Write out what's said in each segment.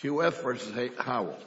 Q.F. v. Howell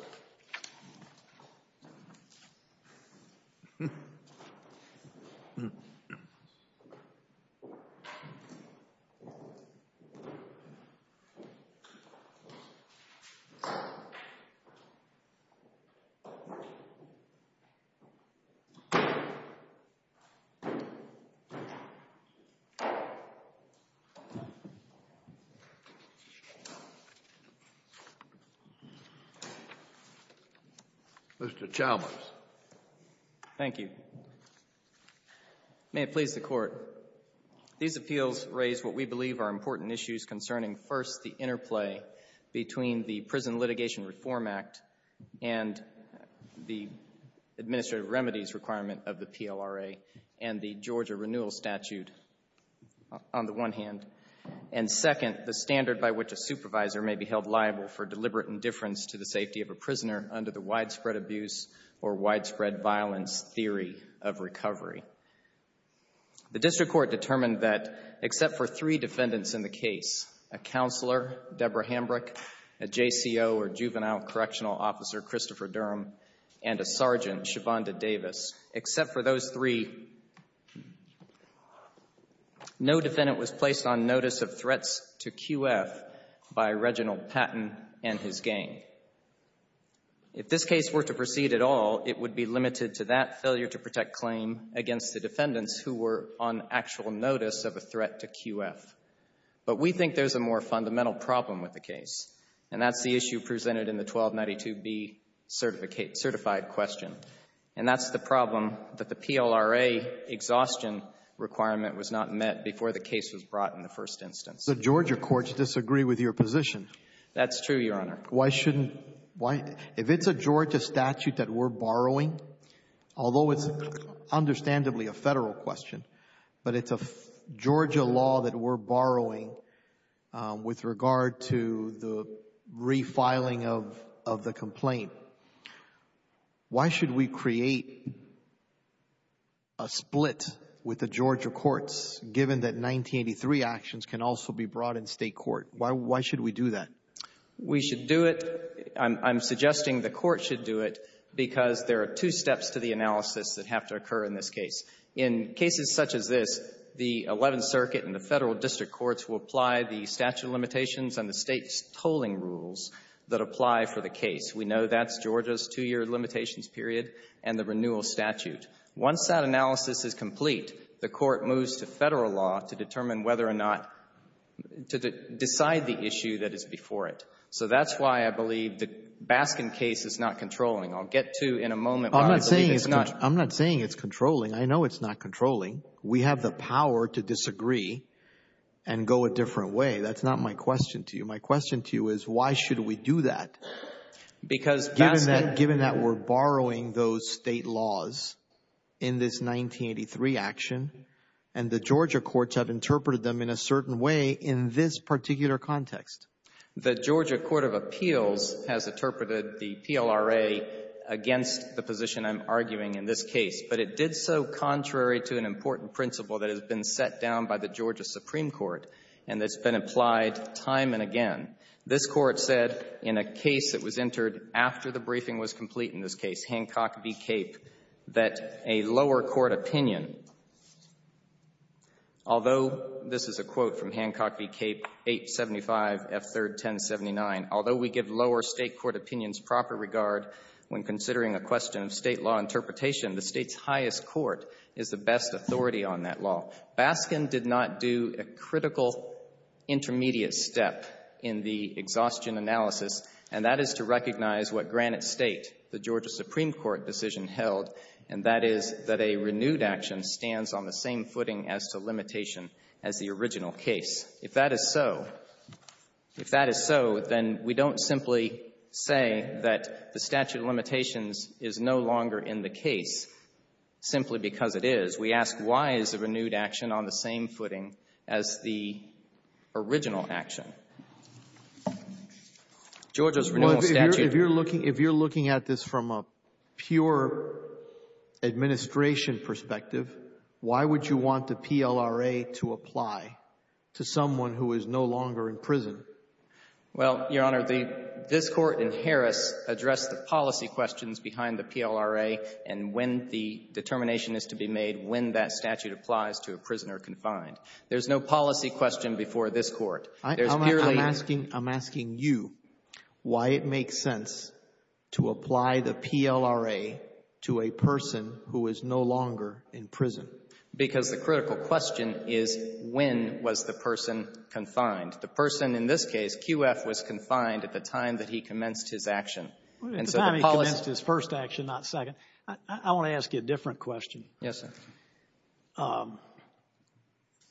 Mr. Chalmers. Thank you. May it please the Court. These appeals raise what we believe are important issues concerning, first, the interplay between the Prison Litigation Reform Act and the administrative remedies requirement of the PLRA and the Georgia renewal statute, on the one hand, and, second, the standard by which a supervisor may be held liable for deliberate indifference to the safety of a prisoner under the widespread abuse or widespread violence theory of recovery. The District Court determined that, except for three defendants in the case, a counselor, Deborah Hambrick, a JCO or juvenile correctional officer, Christopher Durham, and a sergeant, except for those three, no defendant was placed on notice of threats to Q.F. by Reginald Patton and his gang. If this case were to proceed at all, it would be limited to that failure to protect claim against the defendants who were on actual notice of a threat to Q.F. But we think there's a more fundamental problem with the case, and that's the issue and that's the problem that the PLRA exhaustion requirement was not met before the case was brought in the first instance. The Georgia courts disagree with your position. That's true, Your Honor. Why shouldn't — if it's a Georgia statute that we're borrowing, although it's understandably a Federal question, but it's a Georgia law that we're borrowing with regard to the refiling of the complaint, why should we create a split with the Georgia courts, given that 1983 actions can also be brought in State court? Why should we do that? We should do it — I'm suggesting the court should do it because there are two steps to the analysis that have to occur in this case. In cases such as this, the Eleventh Amendment will apply the statute of limitations and the State's tolling rules that apply for the case. We know that's Georgia's two-year limitations period and the renewal statute. Once that analysis is complete, the court moves to Federal law to determine whether or not — to decide the issue that is before it. So that's why I believe the Baskin case is not controlling. I'll get to in a moment why I believe it's not. I'm not saying it's controlling. I know it's not controlling. We have the power to go a different way. That's not my question to you. My question to you is, why should we do that, given that we're borrowing those State laws in this 1983 action and the Georgia courts have interpreted them in a certain way in this particular context? The Georgia Court of Appeals has interpreted the PLRA against the position I'm arguing in this case, but it did so contrary to an important principle that has been set down by the Georgia Supreme Court and that's been applied time and again. This Court said in a case that was entered after the briefing was complete in this case, Hancock v. Cape, that a lower court opinion, although this is a quote from Hancock v. Cape, 875F3rd 1079, although we give lower State court opinions proper regard when considering a question of State law interpretation, the State's highest court is the best authority on that law. Baskin did not do a critical intermediate step in the exhaustion analysis, and that is to recognize what Granite State, the Georgia Supreme Court decision held, and that is that a renewed action stands on the same footing as to limitation as the original case. If that is so, if that is so, then we don't simply say that the statute of limitations is no longer in the case simply because it is. We ask, why is a renewed action on the same footing as the original action? Georgia's renewal statute. Well, if you're looking at this from a pure administration perspective, why would you want the PLRA to apply to someone who is no longer in prison? Well, Your Honor, this Court in Harris addressed the policy questions behind the PLRA and when the determination is to be made when that statute applies to a prisoner confined. There's no policy question before this Court. I'm asking you why it makes sense to apply the PLRA to a person who is no longer in prison. Because the critical question is, when was the person confined? The person in this case, QF, was confined at the time that he commenced his action. The time he commenced his first action, not second. I want to ask you a different question. Yes, sir.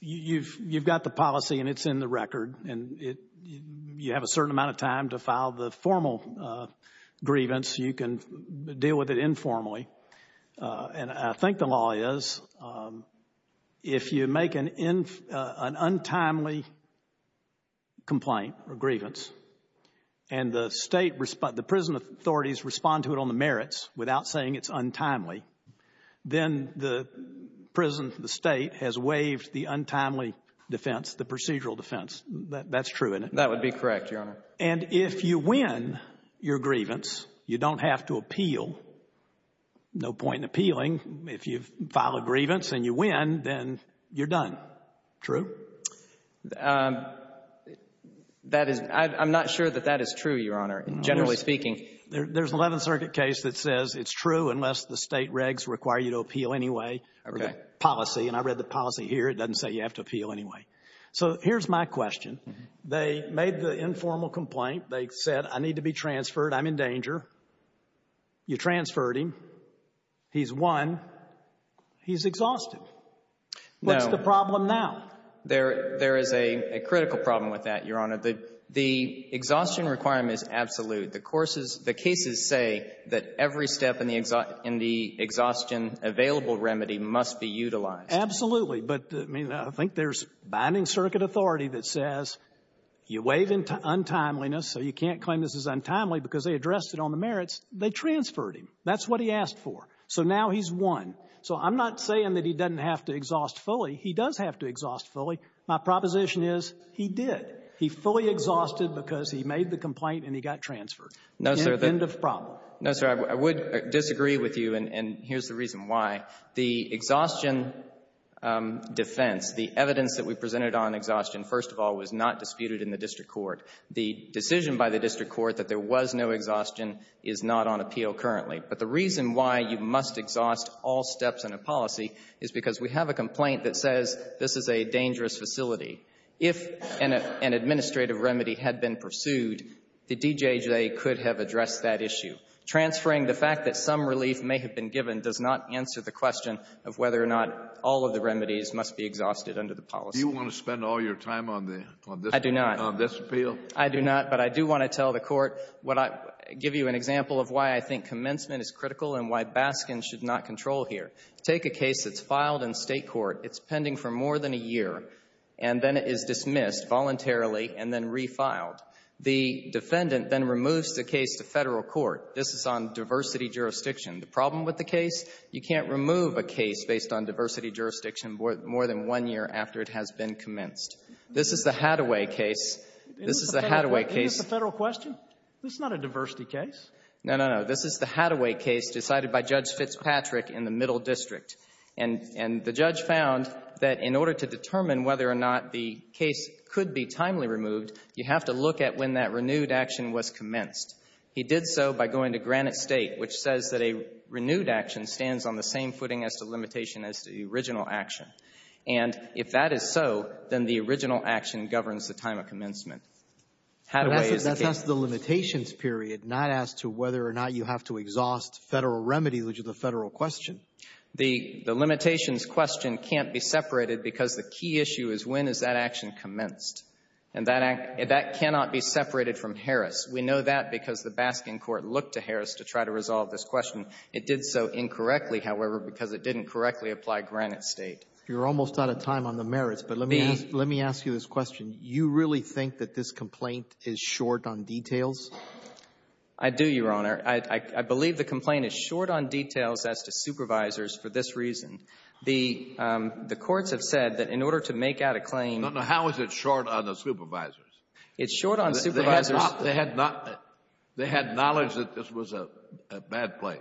You've got the policy and it's in the record, and you have a certain amount of time to file the formal grievance. You can deal with it informally. And I think the law is, if you make an untimely complaint or grievance and the State, the prison authorities respond to it on the merits without saying it's untimely, then the prison or the State has waived the untimely defense, the procedural defense. That's true, isn't it? That would be correct, Your Honor. And if you win your grievance, you don't have to appeal. No point in appealing. If you file a grievance and you win, then you're done. True? I'm not sure that that is true, Your Honor, generally speaking. There's an Eleventh Circuit case that says it's true unless the State regs require you to appeal anyway. Okay. Policy. And I read the policy here. It doesn't say you have to appeal anyway. So here's my question. They made the informal complaint. They said, I need to be transferred. I'm in danger. You transferred him. He's won. He's exhausted. No. What's the problem now? There is a critical problem with that, Your Honor. The exhaustion requirement is absolute. The courses, the cases say that every step in the exhaustion available remedy must be utilized. Absolutely. But, I mean, I think there's binding circuit authority that says you waive untimeliness, so you can't claim this is untimely because they addressed it on the merits. They transferred him. That's what he asked for. So now he's won. So I'm not saying that he doesn't have to exhaust fully. He does have to exhaust fully. My proposition is he did. He fully exhausted because he made the complaint and he got transferred. No, sir. End of problem. No, sir. I would disagree with you, and here's the reason why. The exhaustion defense, the evidence that we presented on exhaustion, first of all, was not disputed in the district court. The decision by the district court that there was no exhaustion is not on appeal currently. But the reason why you must exhaust all steps in a policy is because we have a complaint that says this is a dangerous facility. If an administrative remedy had been pursued, the DJJ could have addressed that issue. Transferring the fact that some relief may have been given does not answer the question of whether or not all of the remedies must be exhausted under the policy. Do you want to spend all your time on the — I do not. — on this appeal? I do not, but I do want to tell the Court what I — give you an example of why I think commencement is critical and why Baskin should not control here. Take a case that's filed in State court. It's pending for more than a year, and then it is dismissed voluntarily and then refiled. The defendant then removes the case to Federal court. This is on diversity jurisdiction. The problem with the case, you can't remove a case based on diversity jurisdiction more than one year after it has been commenced. This is the Hathaway case. This is the Hathaway case. Isn't this a Federal question? This is not a diversity case. No, no, no. This is the Hathaway case decided by Judge Fitzpatrick in the Middle District. And the judge found that in order to determine whether or not the case could be looked at when that renewed action was commenced, he did so by going to Granite State, which says that a renewed action stands on the same footing as the limitation as to the original action. And if that is so, then the original action governs the time of commencement. Hathaway is the case. But that's the limitations period, not as to whether or not you have to exhaust Federal remedies, which is a Federal question. The limitations question can't be separated because the key issue is when is that action commenced. And that cannot be separated from Harris. We know that because the Baskin court looked to Harris to try to resolve this question. It did so incorrectly, however, because it didn't correctly apply Granite State. You're almost out of time on the merits, but let me ask you this question. You really think that this complaint is short on details? I do, Your Honor. I believe the complaint is short on details as to supervisors for this reason. The courts have said that in order to make out a claim — No, no, how is it short on the supervisors? It's short on supervisors. They had knowledge that this was a bad place.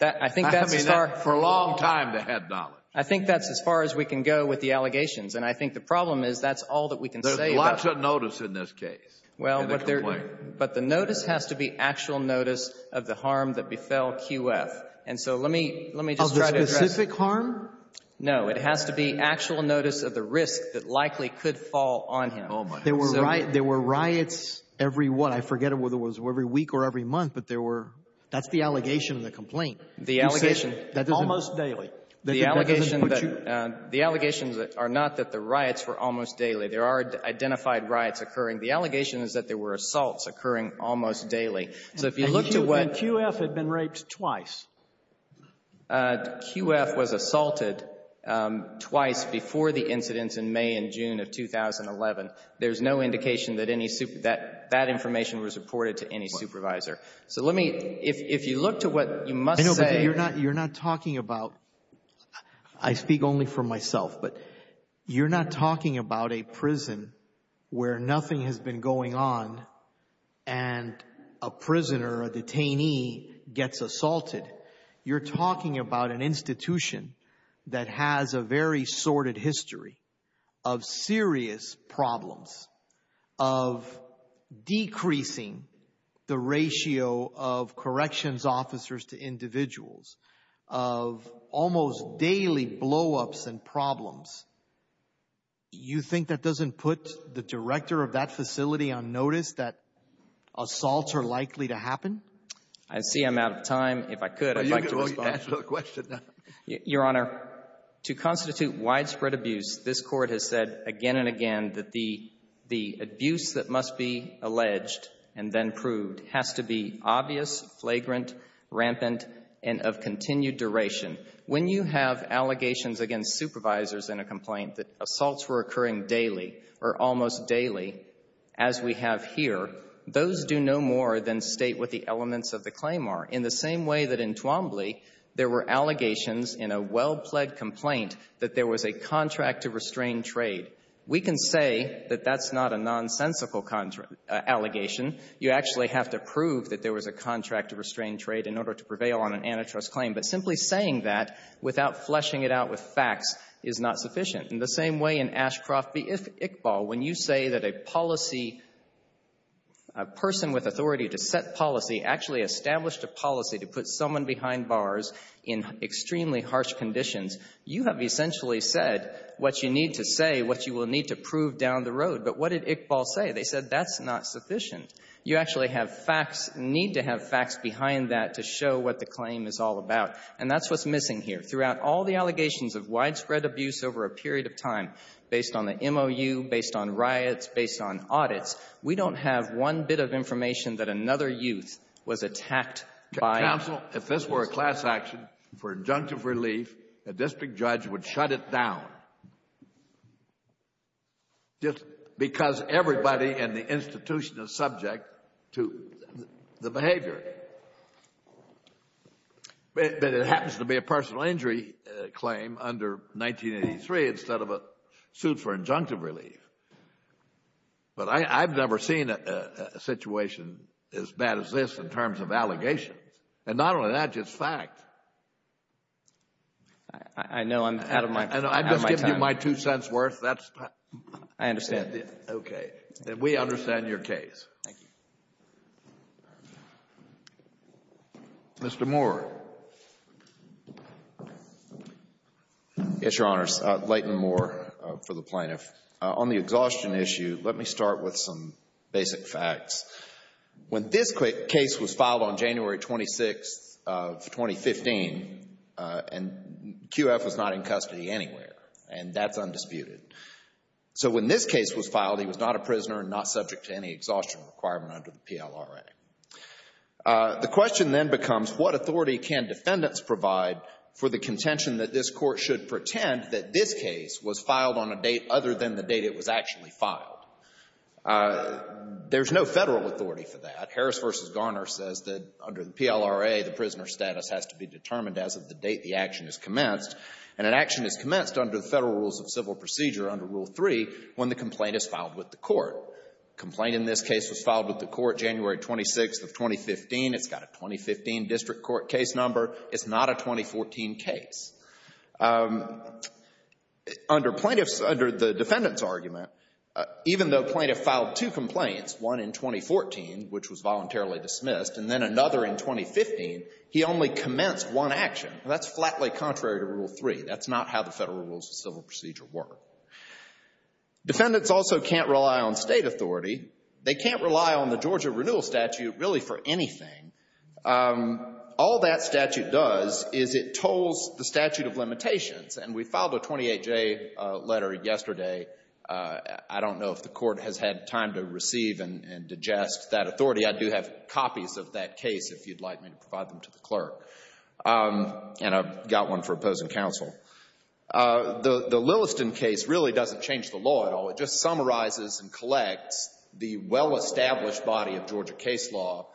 I think that's as far — I mean, for a long time they had knowledge. I think that's as far as we can go with the allegations. And I think the problem is that's all that we can say about — There's lots of notice in this case in the complaint. Well, but the notice has to be actual notice of the harm that befell QF. And so let me just try to address — Of the specific harm? No. It has to be actual notice of the risk that likely could fall on him. There were riots every what? I forget whether it was every week or every month, but there were — that's the allegation of the complaint. The allegation — You said almost daily. The allegation — That doesn't put you — The allegations are not that the riots were almost daily. There are identified riots occurring. The allegation is that there were assaults occurring almost daily. So if you look to what — And QF had been raped twice. QF was assaulted twice before the incidents in May and June of 2011. There's no indication that any — that that information was reported to any supervisor. So let me — if you look to what you must say — I know, but you're not talking about — I speak only for myself, but you're not talking about a prison where nothing has been going on and a prisoner, a detainee gets assaulted. You're talking about an institution that has a very sordid history of serious problems, of decreasing the ratio of corrections officers to individuals, of almost daily blowups and You think that doesn't put the director of that facility on notice that assaults are likely to happen? I see I'm out of time. If I could, I'd like to respond. You can answer the question now. Your Honor, to constitute widespread abuse, this Court has said again and again that the abuse that must be alleged and then proved has to be obvious, flagrant, rampant, and of continued duration. When you have allegations against supervisors in a complaint that assaults were occurring daily or almost daily, as we have here, those do no more than state what the elements of the claim are, in the same way that in Twombly there were allegations in a well-pled complaint that there was a contract to restrain trade. We can say that that's not a nonsensical allegation. You actually have to prove that there was a contract to restrain trade in order to prevail on an antitrust claim. But simply saying that without fleshing it out with facts is not sufficient. In the same way in Ashcroft v. Iqbal, when you say that a policy, a person with authority to set policy actually established a policy to put someone behind bars in extremely harsh conditions, you have essentially said what you need to say, what you will need to prove down the road. But what did Iqbal say? They said that's not sufficient. You actually have facts, need to have facts behind that to show what the claim is all about. And that's what's missing here. Throughout all the allegations of widespread abuse over a period of time, based on the MOU, based on riots, based on audits, we don't have one bit of information that another youth was attacked by. Counsel, if this were a class action for injunctive relief, a district judge would shut it down just because everybody in the institution is subject to the behavior. But it happens to be a personal injury claim under 1983 instead of a suit for injunctive relief. But I've never seen a situation as bad as this in terms of allegations. And not only that, just fact. I know I'm out of my time. I'm just giving you my two cents' worth. I understand. Okay. And we understand your case. Thank you. Mr. Moore. Yes, Your Honors. Leighton Moore for the plaintiff. On the exhaustion issue, let me start with some basic facts. When this case was filed on January 26th of 2015, and QF was not in custody anywhere, and that's undisputed. So when this case was filed, he was not a prisoner and not subject to any exhaustion requirement under the PLRA. The question then becomes, what authority can defendants provide for the contention that this Court should pretend that this case was filed on a date other than the date it was actually filed? There's no Federal authority for that. Harris v. Garner says that under the PLRA, the prisoner status has to be determined as of the date the action is commenced. And an action is commenced under the Federal Rules of Civil Procedure under Rule 3 when the complaint is filed with the Court. The complaint in this case was filed with the Court January 26th of 2015. It's got a 2015 district court case number. It's not a 2014 case. Under plaintiffs, under the defendant's argument, even though a plaintiff filed two complaints, one in 2014, which was voluntarily dismissed, and then another in 2015, he only commenced one action. That's flatly contrary to Rule 3. That's not how the Federal Rules of Civil Procedure work. Defendants also can't rely on State authority. They can't rely on the Georgia renewal statute really for anything. All that statute does is it tolls the statute of limitations. And we filed a 28-J letter yesterday. I don't know if the Court has had time to receive and digest that authority. I do have copies of that case if you'd like me to provide them to the clerk. And I've got one for opposing counsel. The Lilliston case really doesn't change the law at all. It just summarizes and collects the well-established body of Georgia case law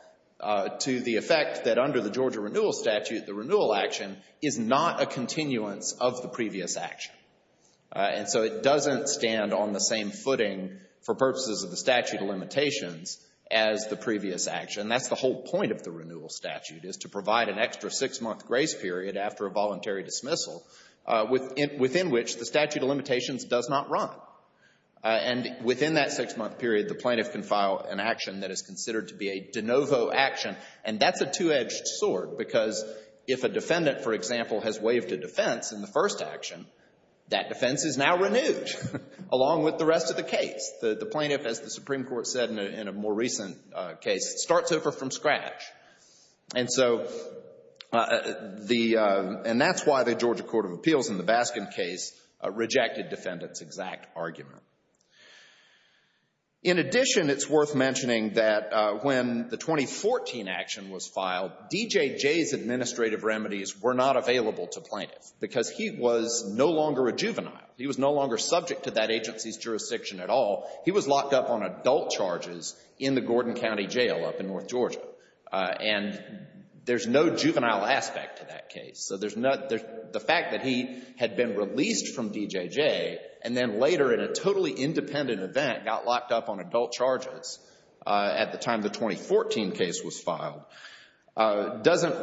to the effect that under the Georgia renewal statute, the renewal action is not a continuance of the previous action. And so it doesn't stand on the same footing for purposes of the statute of limitations as the previous action. That's the whole point of the renewal statute is to provide an extra six-month grace period after a voluntary dismissal within which the statute of limitations does not run. And within that six-month period, the plaintiff can file an action that is considered to be a de novo action. And that's a two-edged sword because if a defendant, for example, has waived a defense in the first action, that defense is now renewed along with the rest of the case. The plaintiff, as the Supreme Court said in a more recent case, starts over from scratch. And so the — and that's why the Georgia Court of Appeals in the Baskin case rejected defendants' exact argument. In addition, it's worth mentioning that when the 2014 action was filed, D.J. Jay's administrative remedies were not available to plaintiffs because he was no longer a juvenile. He was no longer subject to that agency's jurisdiction at all. He was locked up on adult charges in the Gordon County Jail up in North Georgia. And there's no juvenile aspect to that case. So there's no — the fact that he had been released from D.J. Jay and then later, in a totally independent event, got locked up on adult charges at the time the 2014 case was filed, doesn't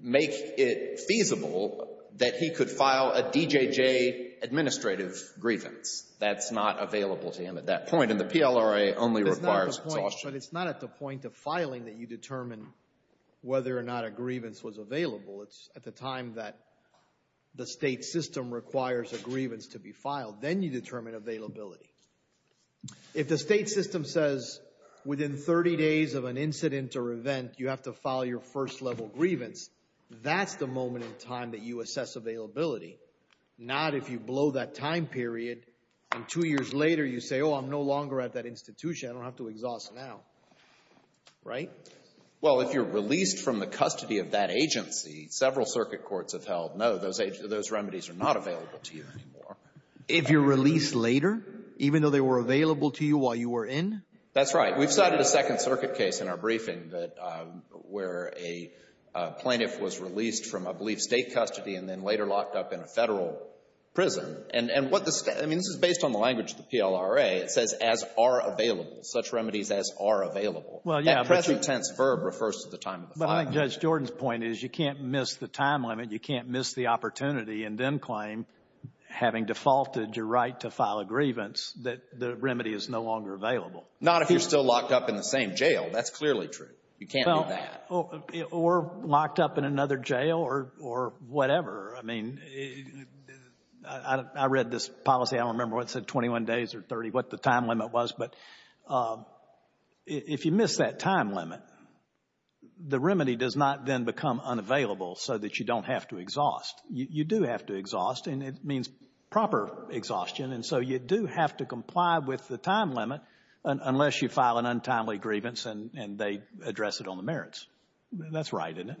make it feasible that he could file a D.J. Jay administrative grievance. That's not available to him at that point, and the PLRA only requires — But it's not at the point of filing that you determine whether or not a grievance was available. It's at the time that the state system requires a grievance to be filed. Then you determine availability. If the state system says within 30 days of an incident or event, you have to file your first-level grievance, that's the moment in time that you assess availability. Not if you blow that time period and two years later you say, oh, I'm no longer at that institution. I don't have to exhaust now. Right? Well, if you're released from the custody of that agency, several circuit courts have held, no, those remedies are not available to you anymore. If you're released later, even though they were available to you while you were in? That's right. We've cited a Second Circuit case in our briefing where a plaintiff was released from, I believe, state custody and then later locked up in a Federal prison. And what the — I mean, this is based on the language of the PLRA. It says as are available, such remedies as are available. Well, yeah. That present tense verb refers to the time of the filing. But I think Judge Jordan's point is you can't miss the time limit, you can't miss the opportunity, and then claim, having defaulted your right to file a grievance, that the remedy is no longer available. Not if you're still locked up in the same jail. That's clearly true. You can't do that. Or locked up in another jail or whatever. I mean, I read this policy. I don't remember what it said, 21 days or 30, what the time limit was. But if you miss that time limit, the remedy does not then become unavailable so that you don't have to exhaust. You do have to exhaust, and it means proper exhaustion. And so you do have to comply with the time limit unless you file an untimely grievance and they address it on the merits. That's right, isn't it?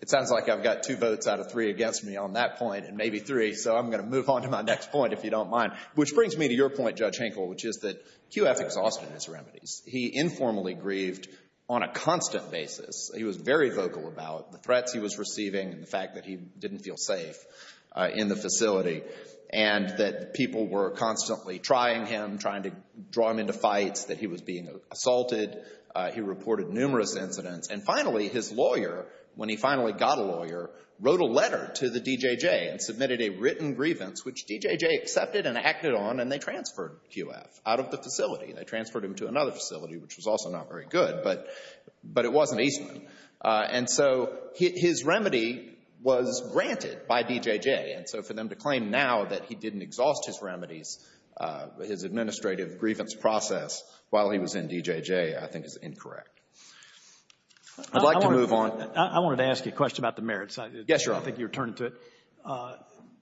It sounds like I've got two votes out of three against me on that point, and maybe three. So I'm going to move on to my next point, if you don't mind. Which brings me to your point, Judge Hinkle, which is that QF exhausted his remedies. He informally grieved on a constant basis. He was very vocal about the threats he was receiving and the fact that he didn't feel safe in the facility. And that people were constantly trying him, trying to draw him into fights, that he was being assaulted. He reported numerous incidents. And finally, his lawyer, when he finally got a lawyer, wrote a letter to the DJJ and submitted a written grievance, which DJJ accepted and acted on, and they transferred QF out of the facility. They transferred him to another facility, which was also not very good, but it wasn't Eastman. And so his remedy was granted by DJJ. And so for them to claim now that he didn't exhaust his remedies, his administrative grievance process, while he was in DJJ, I think is incorrect. I'd like to move on. I wanted to ask you a question about the merits. Yes, Your Honor. I think you were turning to it.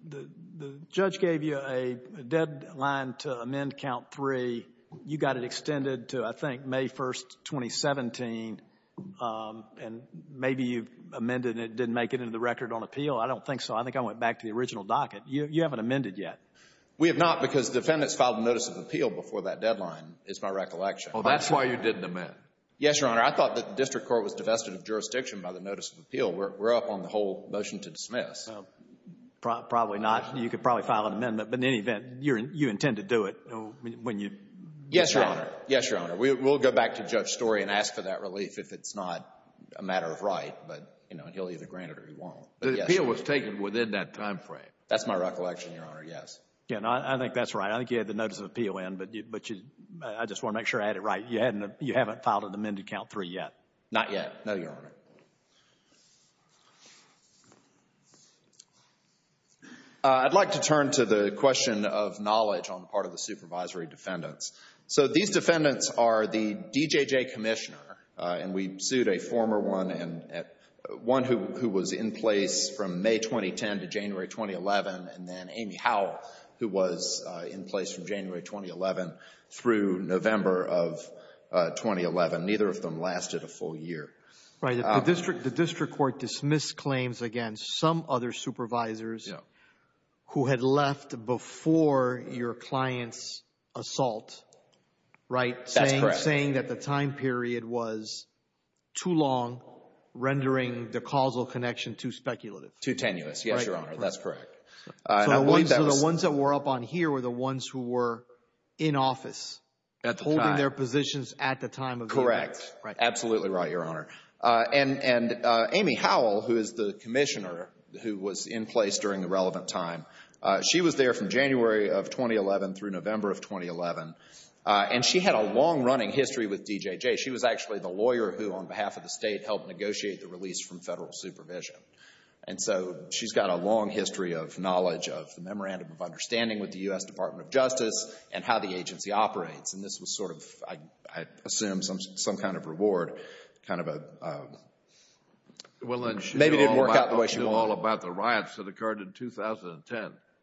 The judge gave you a deadline to amend Count 3. You got it extended to, I think, May 1, 2017, and maybe you amended it and didn't make it into the record on appeal. I don't think so. I think I went back to the original docket. You haven't amended yet. We have not because defendants filed a notice of appeal before that deadline, is my recollection. Oh, that's why you didn't amend. Yes, Your Honor. I thought that the district court was divested of jurisdiction by the notice of appeal. We're up on the whole motion to dismiss. Probably not. You could probably file an amendment. But in any event, you intend to do it when you decide. Yes, Your Honor. Yes, Your Honor. We'll go back to Judge Story and ask for that relief if it's not a matter of right. But he'll either grant it or he won't. The appeal was taken within that time frame. That's my recollection, Your Honor. Yes. I think that's right. I think you had the notice of appeal in, but I just want to make sure I had it right. You haven't filed an amendment to Count 3 yet. Not yet. No, Your Honor. I'd like to turn to the question of knowledge on the part of the supervisory defendants. So these defendants are the DJJ commissioner, and we sued a former one, one who was in place from May 2010 to January 2011, and then Amy Howell, who was in place from January 2011 through November of 2011. Neither of them lasted a full year. Right. The district court dismissed claims against some other supervisors who had left before your client's assault, right? That's correct. Saying that the time period was too long, rendering the causal connection too speculative. Too tenuous. Right. Yes, Your Honor. That's correct. So the ones that were up on here were the ones who were in office. At the time. Holding their positions at the time of the event. Correct. Absolutely right, Your Honor. And Amy Howell, who is the commissioner who was in place during the relevant time, she was there from January of 2011 through November of 2011, and she had a long-running history with DJJ. She was actually the lawyer who, on behalf of the state, helped negotiate the release from federal supervision. And so she's got a long history of knowledge of the memorandum of understanding with the U.S. Department of Justice and how the agency operates, and this was sort of, I assume, some kind of reward, kind of a...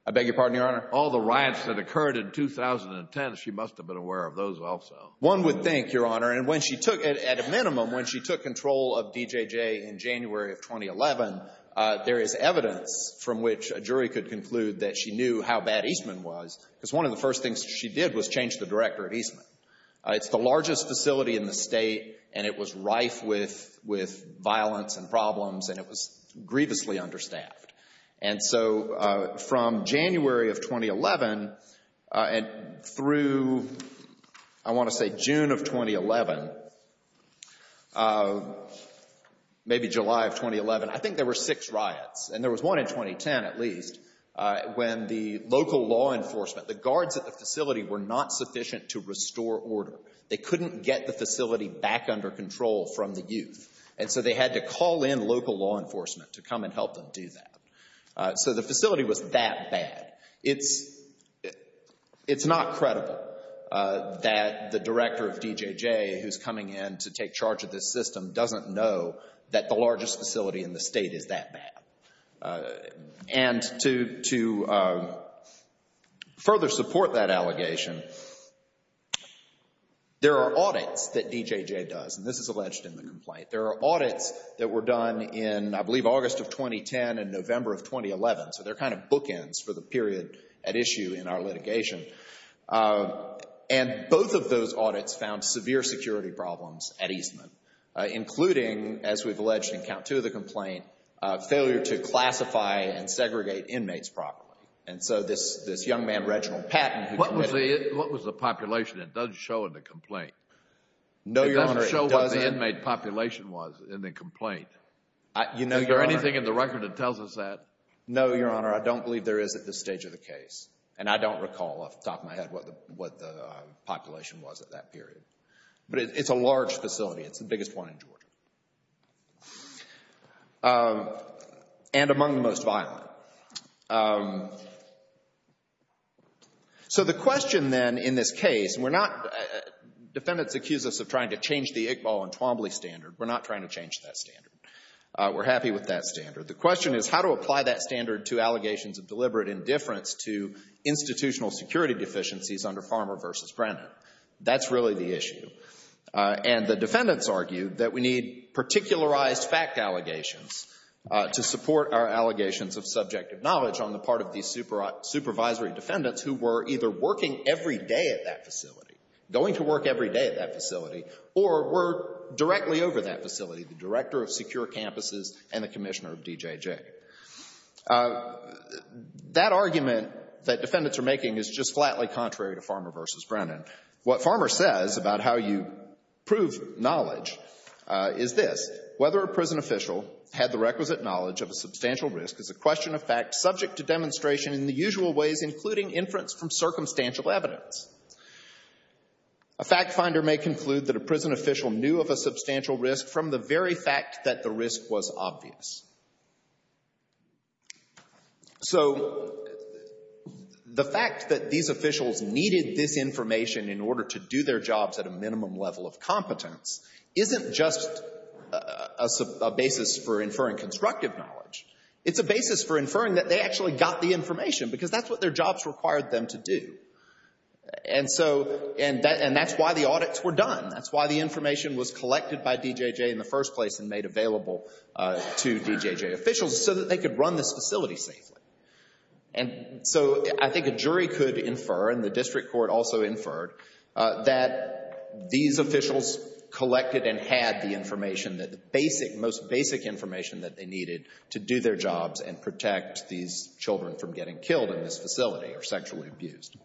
I beg your pardon, Your Honor? All the riots that occurred in 2010, she must have been aware of those also. One would think, Your Honor, and when she took, at a minimum, when she took control of DJJ in January of 2011, there is evidence from which a jury could conclude that she knew how bad Eastman was because one of the first things she did was change the director at Eastman. It's the largest facility in the state, and it was rife with violence and problems, and it was grievously understaffed. And so from January of 2011 through, I want to say, June of 2011, maybe July of 2011, I think there were six riots, and there was one in 2010 at least, when the local law enforcement, the guards at the facility, were not sufficient to restore order. They couldn't get the facility back under control from the youth, and so they had to call in local law enforcement to come and help them do that. So the facility was that bad. It's not credible that the director of DJJ who's coming in to take charge of this system doesn't know that the largest facility in the state is that bad. And to further support that allegation, there are audits that DJJ does, and this is alleged in the complaint. There are audits that were done in, I believe, August of 2010 and November of 2011, so they're kind of bookends for the period at issue in our litigation. And both of those audits found severe security problems at Eastman, including, as we've alleged in count two of the complaint, failure to classify and segregate inmates properly. And so this young man, Reginald Patton, who committed it. What was the population? It doesn't show in the complaint. No, Your Honor, it doesn't. It doesn't show what the inmate population was in the complaint. Is there anything in the record that tells us that? No, Your Honor, I don't believe there is at this stage of the case. And I don't recall off the top of my head what the population was at that period. But it's a large facility. It's the biggest one in Georgia. And among the most violent. So the question then in this case, and we're not, defendants accuse us of trying to change the Iqbal and Twombly standard. We're not trying to change that standard. We're happy with that standard. The question is how to apply that standard to allegations of deliberate indifference to institutional security deficiencies under Farmer v. Brennan. That's really the issue. And the defendants argue that we need particularized fact allegations to support our allegations of subjective knowledge on the part of these supervisory defendants who were either working every day at that facility, going to work every day at that facility, or were directly over that facility, the director of secure campuses and the commissioner of DJJ. That argument that defendants are making is just flatly contrary to Farmer v. Brennan. What Farmer says about how you prove knowledge is this. Whether a prison official had the requisite knowledge of a substantial risk is a question of fact subject to demonstration in the usual ways, including inference from circumstantial evidence. A fact finder may conclude that a prison official knew of a substantial risk from the very fact that the risk was obvious. So the fact that these officials needed this information in order to do their jobs at a minimum level of competence isn't just a basis for inferring constructive knowledge. It's a basis for inferring that they actually got the information because that's what their jobs required them to do. And that's why the audits were done. That's why the information was collected by DJJ in the first place and made available to DJJ officials so that they could run this facility safely. And so I think a jury could infer, and the district court also inferred, that these officials collected and had the information, the most basic information that they needed to do their jobs and protect these children from getting killed in this facility or sexually abused.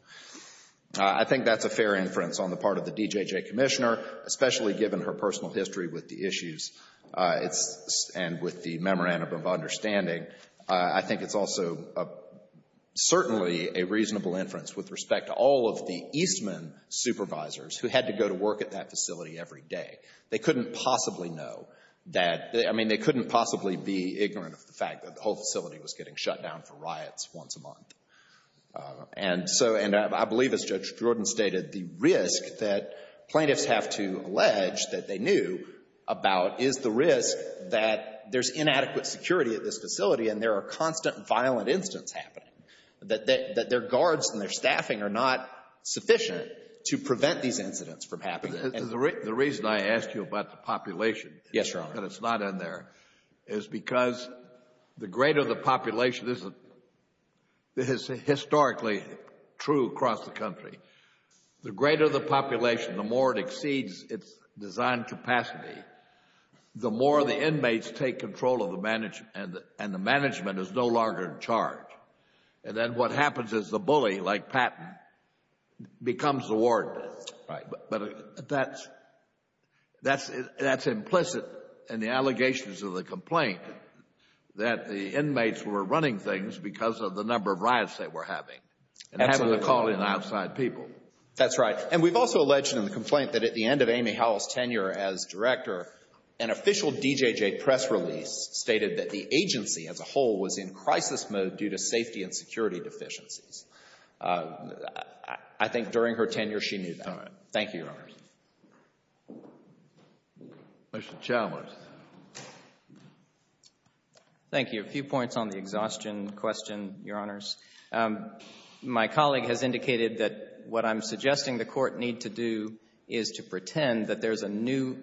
I think that's a fair inference on the part of the DJJ commissioner, especially given her personal history with the issues and with the memorandum of understanding. I think it's also certainly a reasonable inference with respect to all of the Eastman supervisors who had to go to work at that facility every day. They couldn't possibly know that. I mean, they couldn't possibly be ignorant of the fact that the whole facility was getting shut down for riots once a month. And so I believe, as Judge Jordan stated, the risk that plaintiffs have to allege that they knew about is the risk that there's inadequate security at this facility and there are constant violent incidents happening, that their guards and their staffing are not sufficient to prevent these incidents from happening. The reason I asked you about the population, that it's not in there, is because the greater the population, this is historically true across the country, the greater the population, the more it exceeds its designed capacity, the more the inmates take control of the management and the management is no longer in charge. And then what happens is the bully, like Patton, becomes the warden. Right. But that's implicit in the allegations of the complaint that the inmates were running things because of the number of riots they were having and having to call in outside people. That's right. And we've also alleged in the complaint that at the end of Amy Howell's tenure as director, an official DJJ press release stated that the agency as a whole was in crisis mode due to safety and security deficiencies. I think during her tenure she knew that. All right. Thank you, Your Honors. Mr. Chalmers. Thank you. A few points on the exhaustion question, Your Honors. My colleague has indicated that what I'm suggesting the court need to do is to pretend that there's a new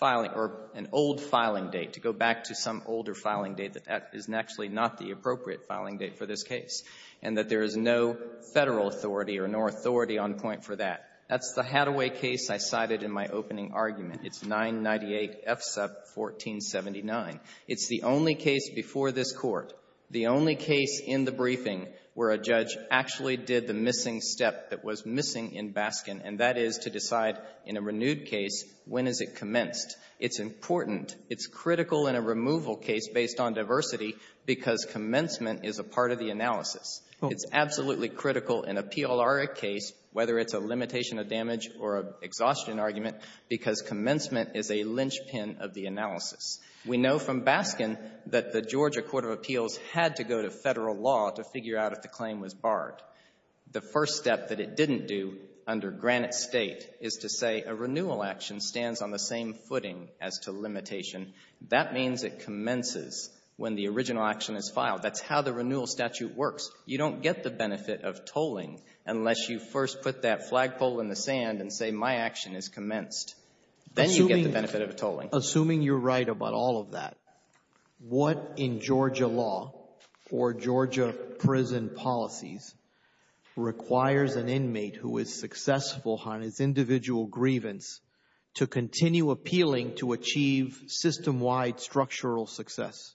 filing or an old filing date, to go back to some older filing date, that that is actually not the appropriate filing date for this case, and that there is no Federal authority or no authority on point for that. That's the Hathaway case I cited in my opening argument. It's 998 F sub 1479. It's the only case before this Court, the only case in the briefing where a judge actually did the missing step that was missing in Baskin, and that is to decide in a renewed case when is it commenced. It's important. It's critical in a removal case based on diversity because commencement is a part of the analysis. It's absolutely critical in a PLR case, whether it's a limitation of damage or an exhaustion argument, because commencement is a linchpin of the analysis. We know from Baskin that the Georgia Court of Appeals had to go to Federal law to figure out if the claim was barred. The first step that it didn't do under Granite State is to say a renewal action stands on the same footing as to limitation. That means it commences when the original action is filed. That's how the renewal statute works. You don't get the benefit of tolling unless you first put that flagpole in the sand and say my action is commenced. Then you get the benefit of a tolling. Assuming you're right about all of that, what in Georgia law or Georgia prison policies requires an inmate who is successful on his individual grievance to continue appealing to achieve system-wide structural success?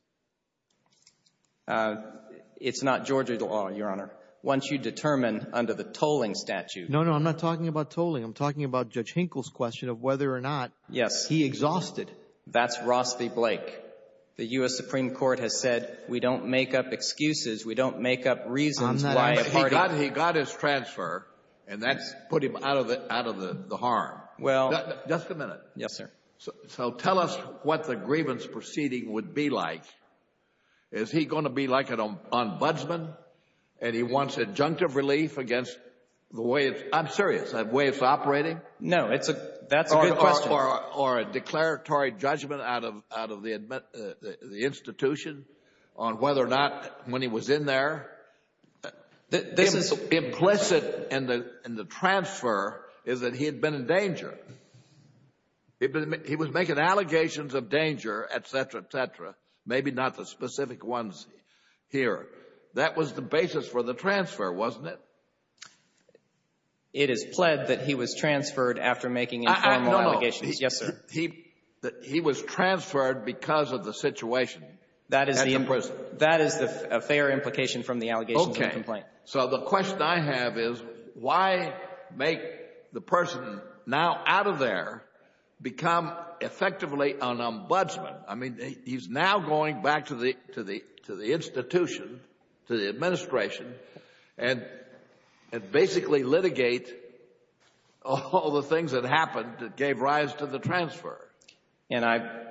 It's not Georgia law, Your Honor. Once you determine under the tolling statute. No, no, I'm not talking about tolling. I'm talking about Judge Hinkle's question of whether or not he exhausted that's Ross v. Blake. The U.S. Supreme Court has said we don't make up excuses, we don't make up reasons why a party He got his transfer and that's put him out of the harm. Well Just a minute. Yes, sir. So tell us what the grievance proceeding would be like. Is he going to be like an ombudsman and he wants adjunctive relief against the way it's I'm serious, the way it's operating? No, that's a good question. Or a declaratory judgment out of the institution on whether or not when he was in there. This is Implicit in the transfer is that he had been in danger. He was making allegations of danger, et cetera, et cetera. Maybe not the specific ones here. That was the basis for the transfer, wasn't it? It is pled that he was transferred after making informal allegations. No, no. Yes, sir. He was transferred because of the situation. That is a fair implication from the allegations of the complaint. Okay. So the question I have is why make the person now out of there become effectively an ombudsman? I mean, he's now going back to the institution, to the administration, and basically litigate all the things that happened that gave rise to the transfer. And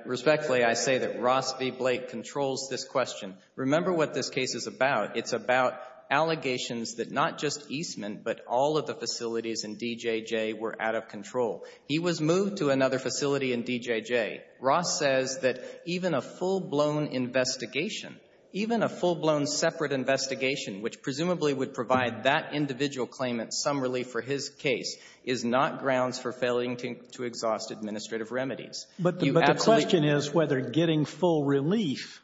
respectfully, I say that Ross v. Blake controls this question. Remember what this case is about. It's about allegations that not just Eastman, but all of the facilities in DJJ were out of control. He was moved to another facility in DJJ. Ross says that even a full-blown investigation, even a full-blown separate investigation, which presumably would provide that individual claimant some relief for his case, is not grounds for failing to exhaust administrative remedies. But the question is whether getting full relief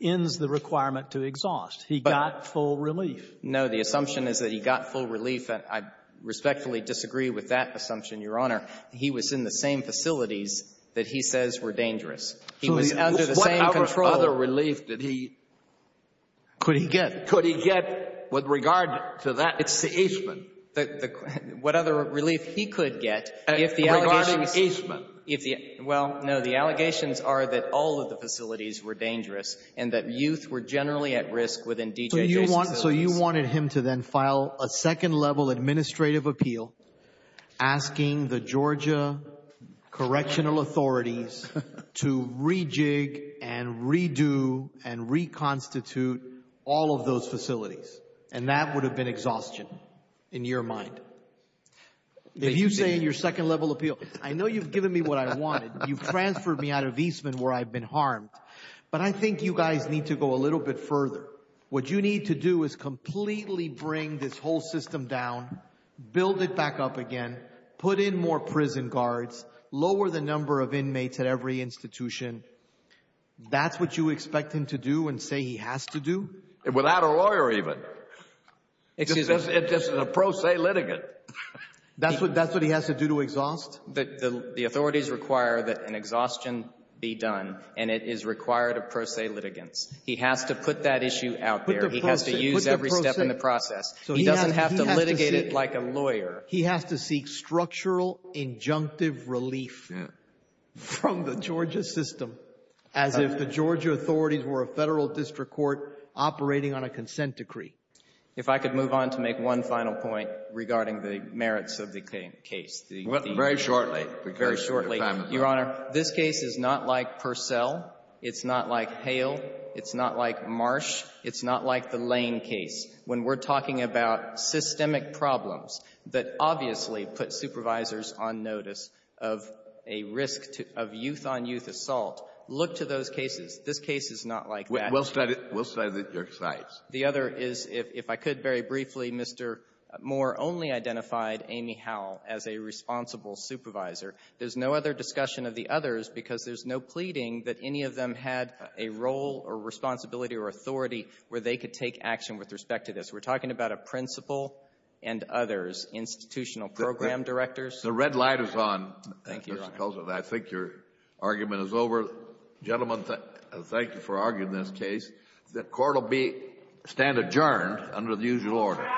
ends the requirement to exhaust. He got full relief. No. The assumption is that he got full relief. I respectfully disagree with that assumption, Your Honor. He was in the same facilities that he says were dangerous. He was under the same control. What other relief did he—could he get? Could he get with regard to that? It's Eastman. What other relief he could get if the allegations— Regarding Eastman. Well, no, the allegations are that all of the facilities were dangerous and that youth were generally at risk within DJJ's facilities. So you wanted him to then file a second-level administrative appeal asking the Georgia Correctional Authorities to rejig and redo and reconstitute all of those facilities. And that would have been exhaustion in your mind. If you say in your second-level appeal, I know you've given me what I wanted. You've transferred me out of Eastman where I've been harmed. But I think you guys need to go a little bit further. What you need to do is completely bring this whole system down, build it back up again, put in more prison guards, lower the number of inmates at every institution. That's what you expect him to do and say he has to do? Without a lawyer, even. It's just a pro se litigant. That's what he has to do to exhaust? The authorities require that an exhaustion be done, and it is required of pro se litigants. He has to put that issue out there. He has to use every step in the process. He doesn't have to litigate it like a lawyer. He has to seek structural injunctive relief from the Georgia system as if the Georgia authorities were a Federal district court operating on a consent decree. If I could move on to make one final point regarding the merits of the case. Very shortly. Very shortly. Your Honor, this case is not like Purcell. It's not like Hale. It's not like Marsh. It's not like the Lane case. When we're talking about systemic problems that obviously put supervisors on notice of a risk to — of youth-on-youth assault, look to those cases. This case is not like that. We'll start at your sides. The other is, if I could very briefly, Mr. Moore only identified Amy Howell as a responsible supervisor. There's no other discussion of the others because there's no pleading that any of them had a role or responsibility or authority where they could take action with respect to this. We're talking about a principal and others, institutional program directors. The red light is on. Thank you, Your Honor. I think your argument is over. Gentlemen, thank you for arguing this case. The court will be — stand adjourned under the usual order. Good night.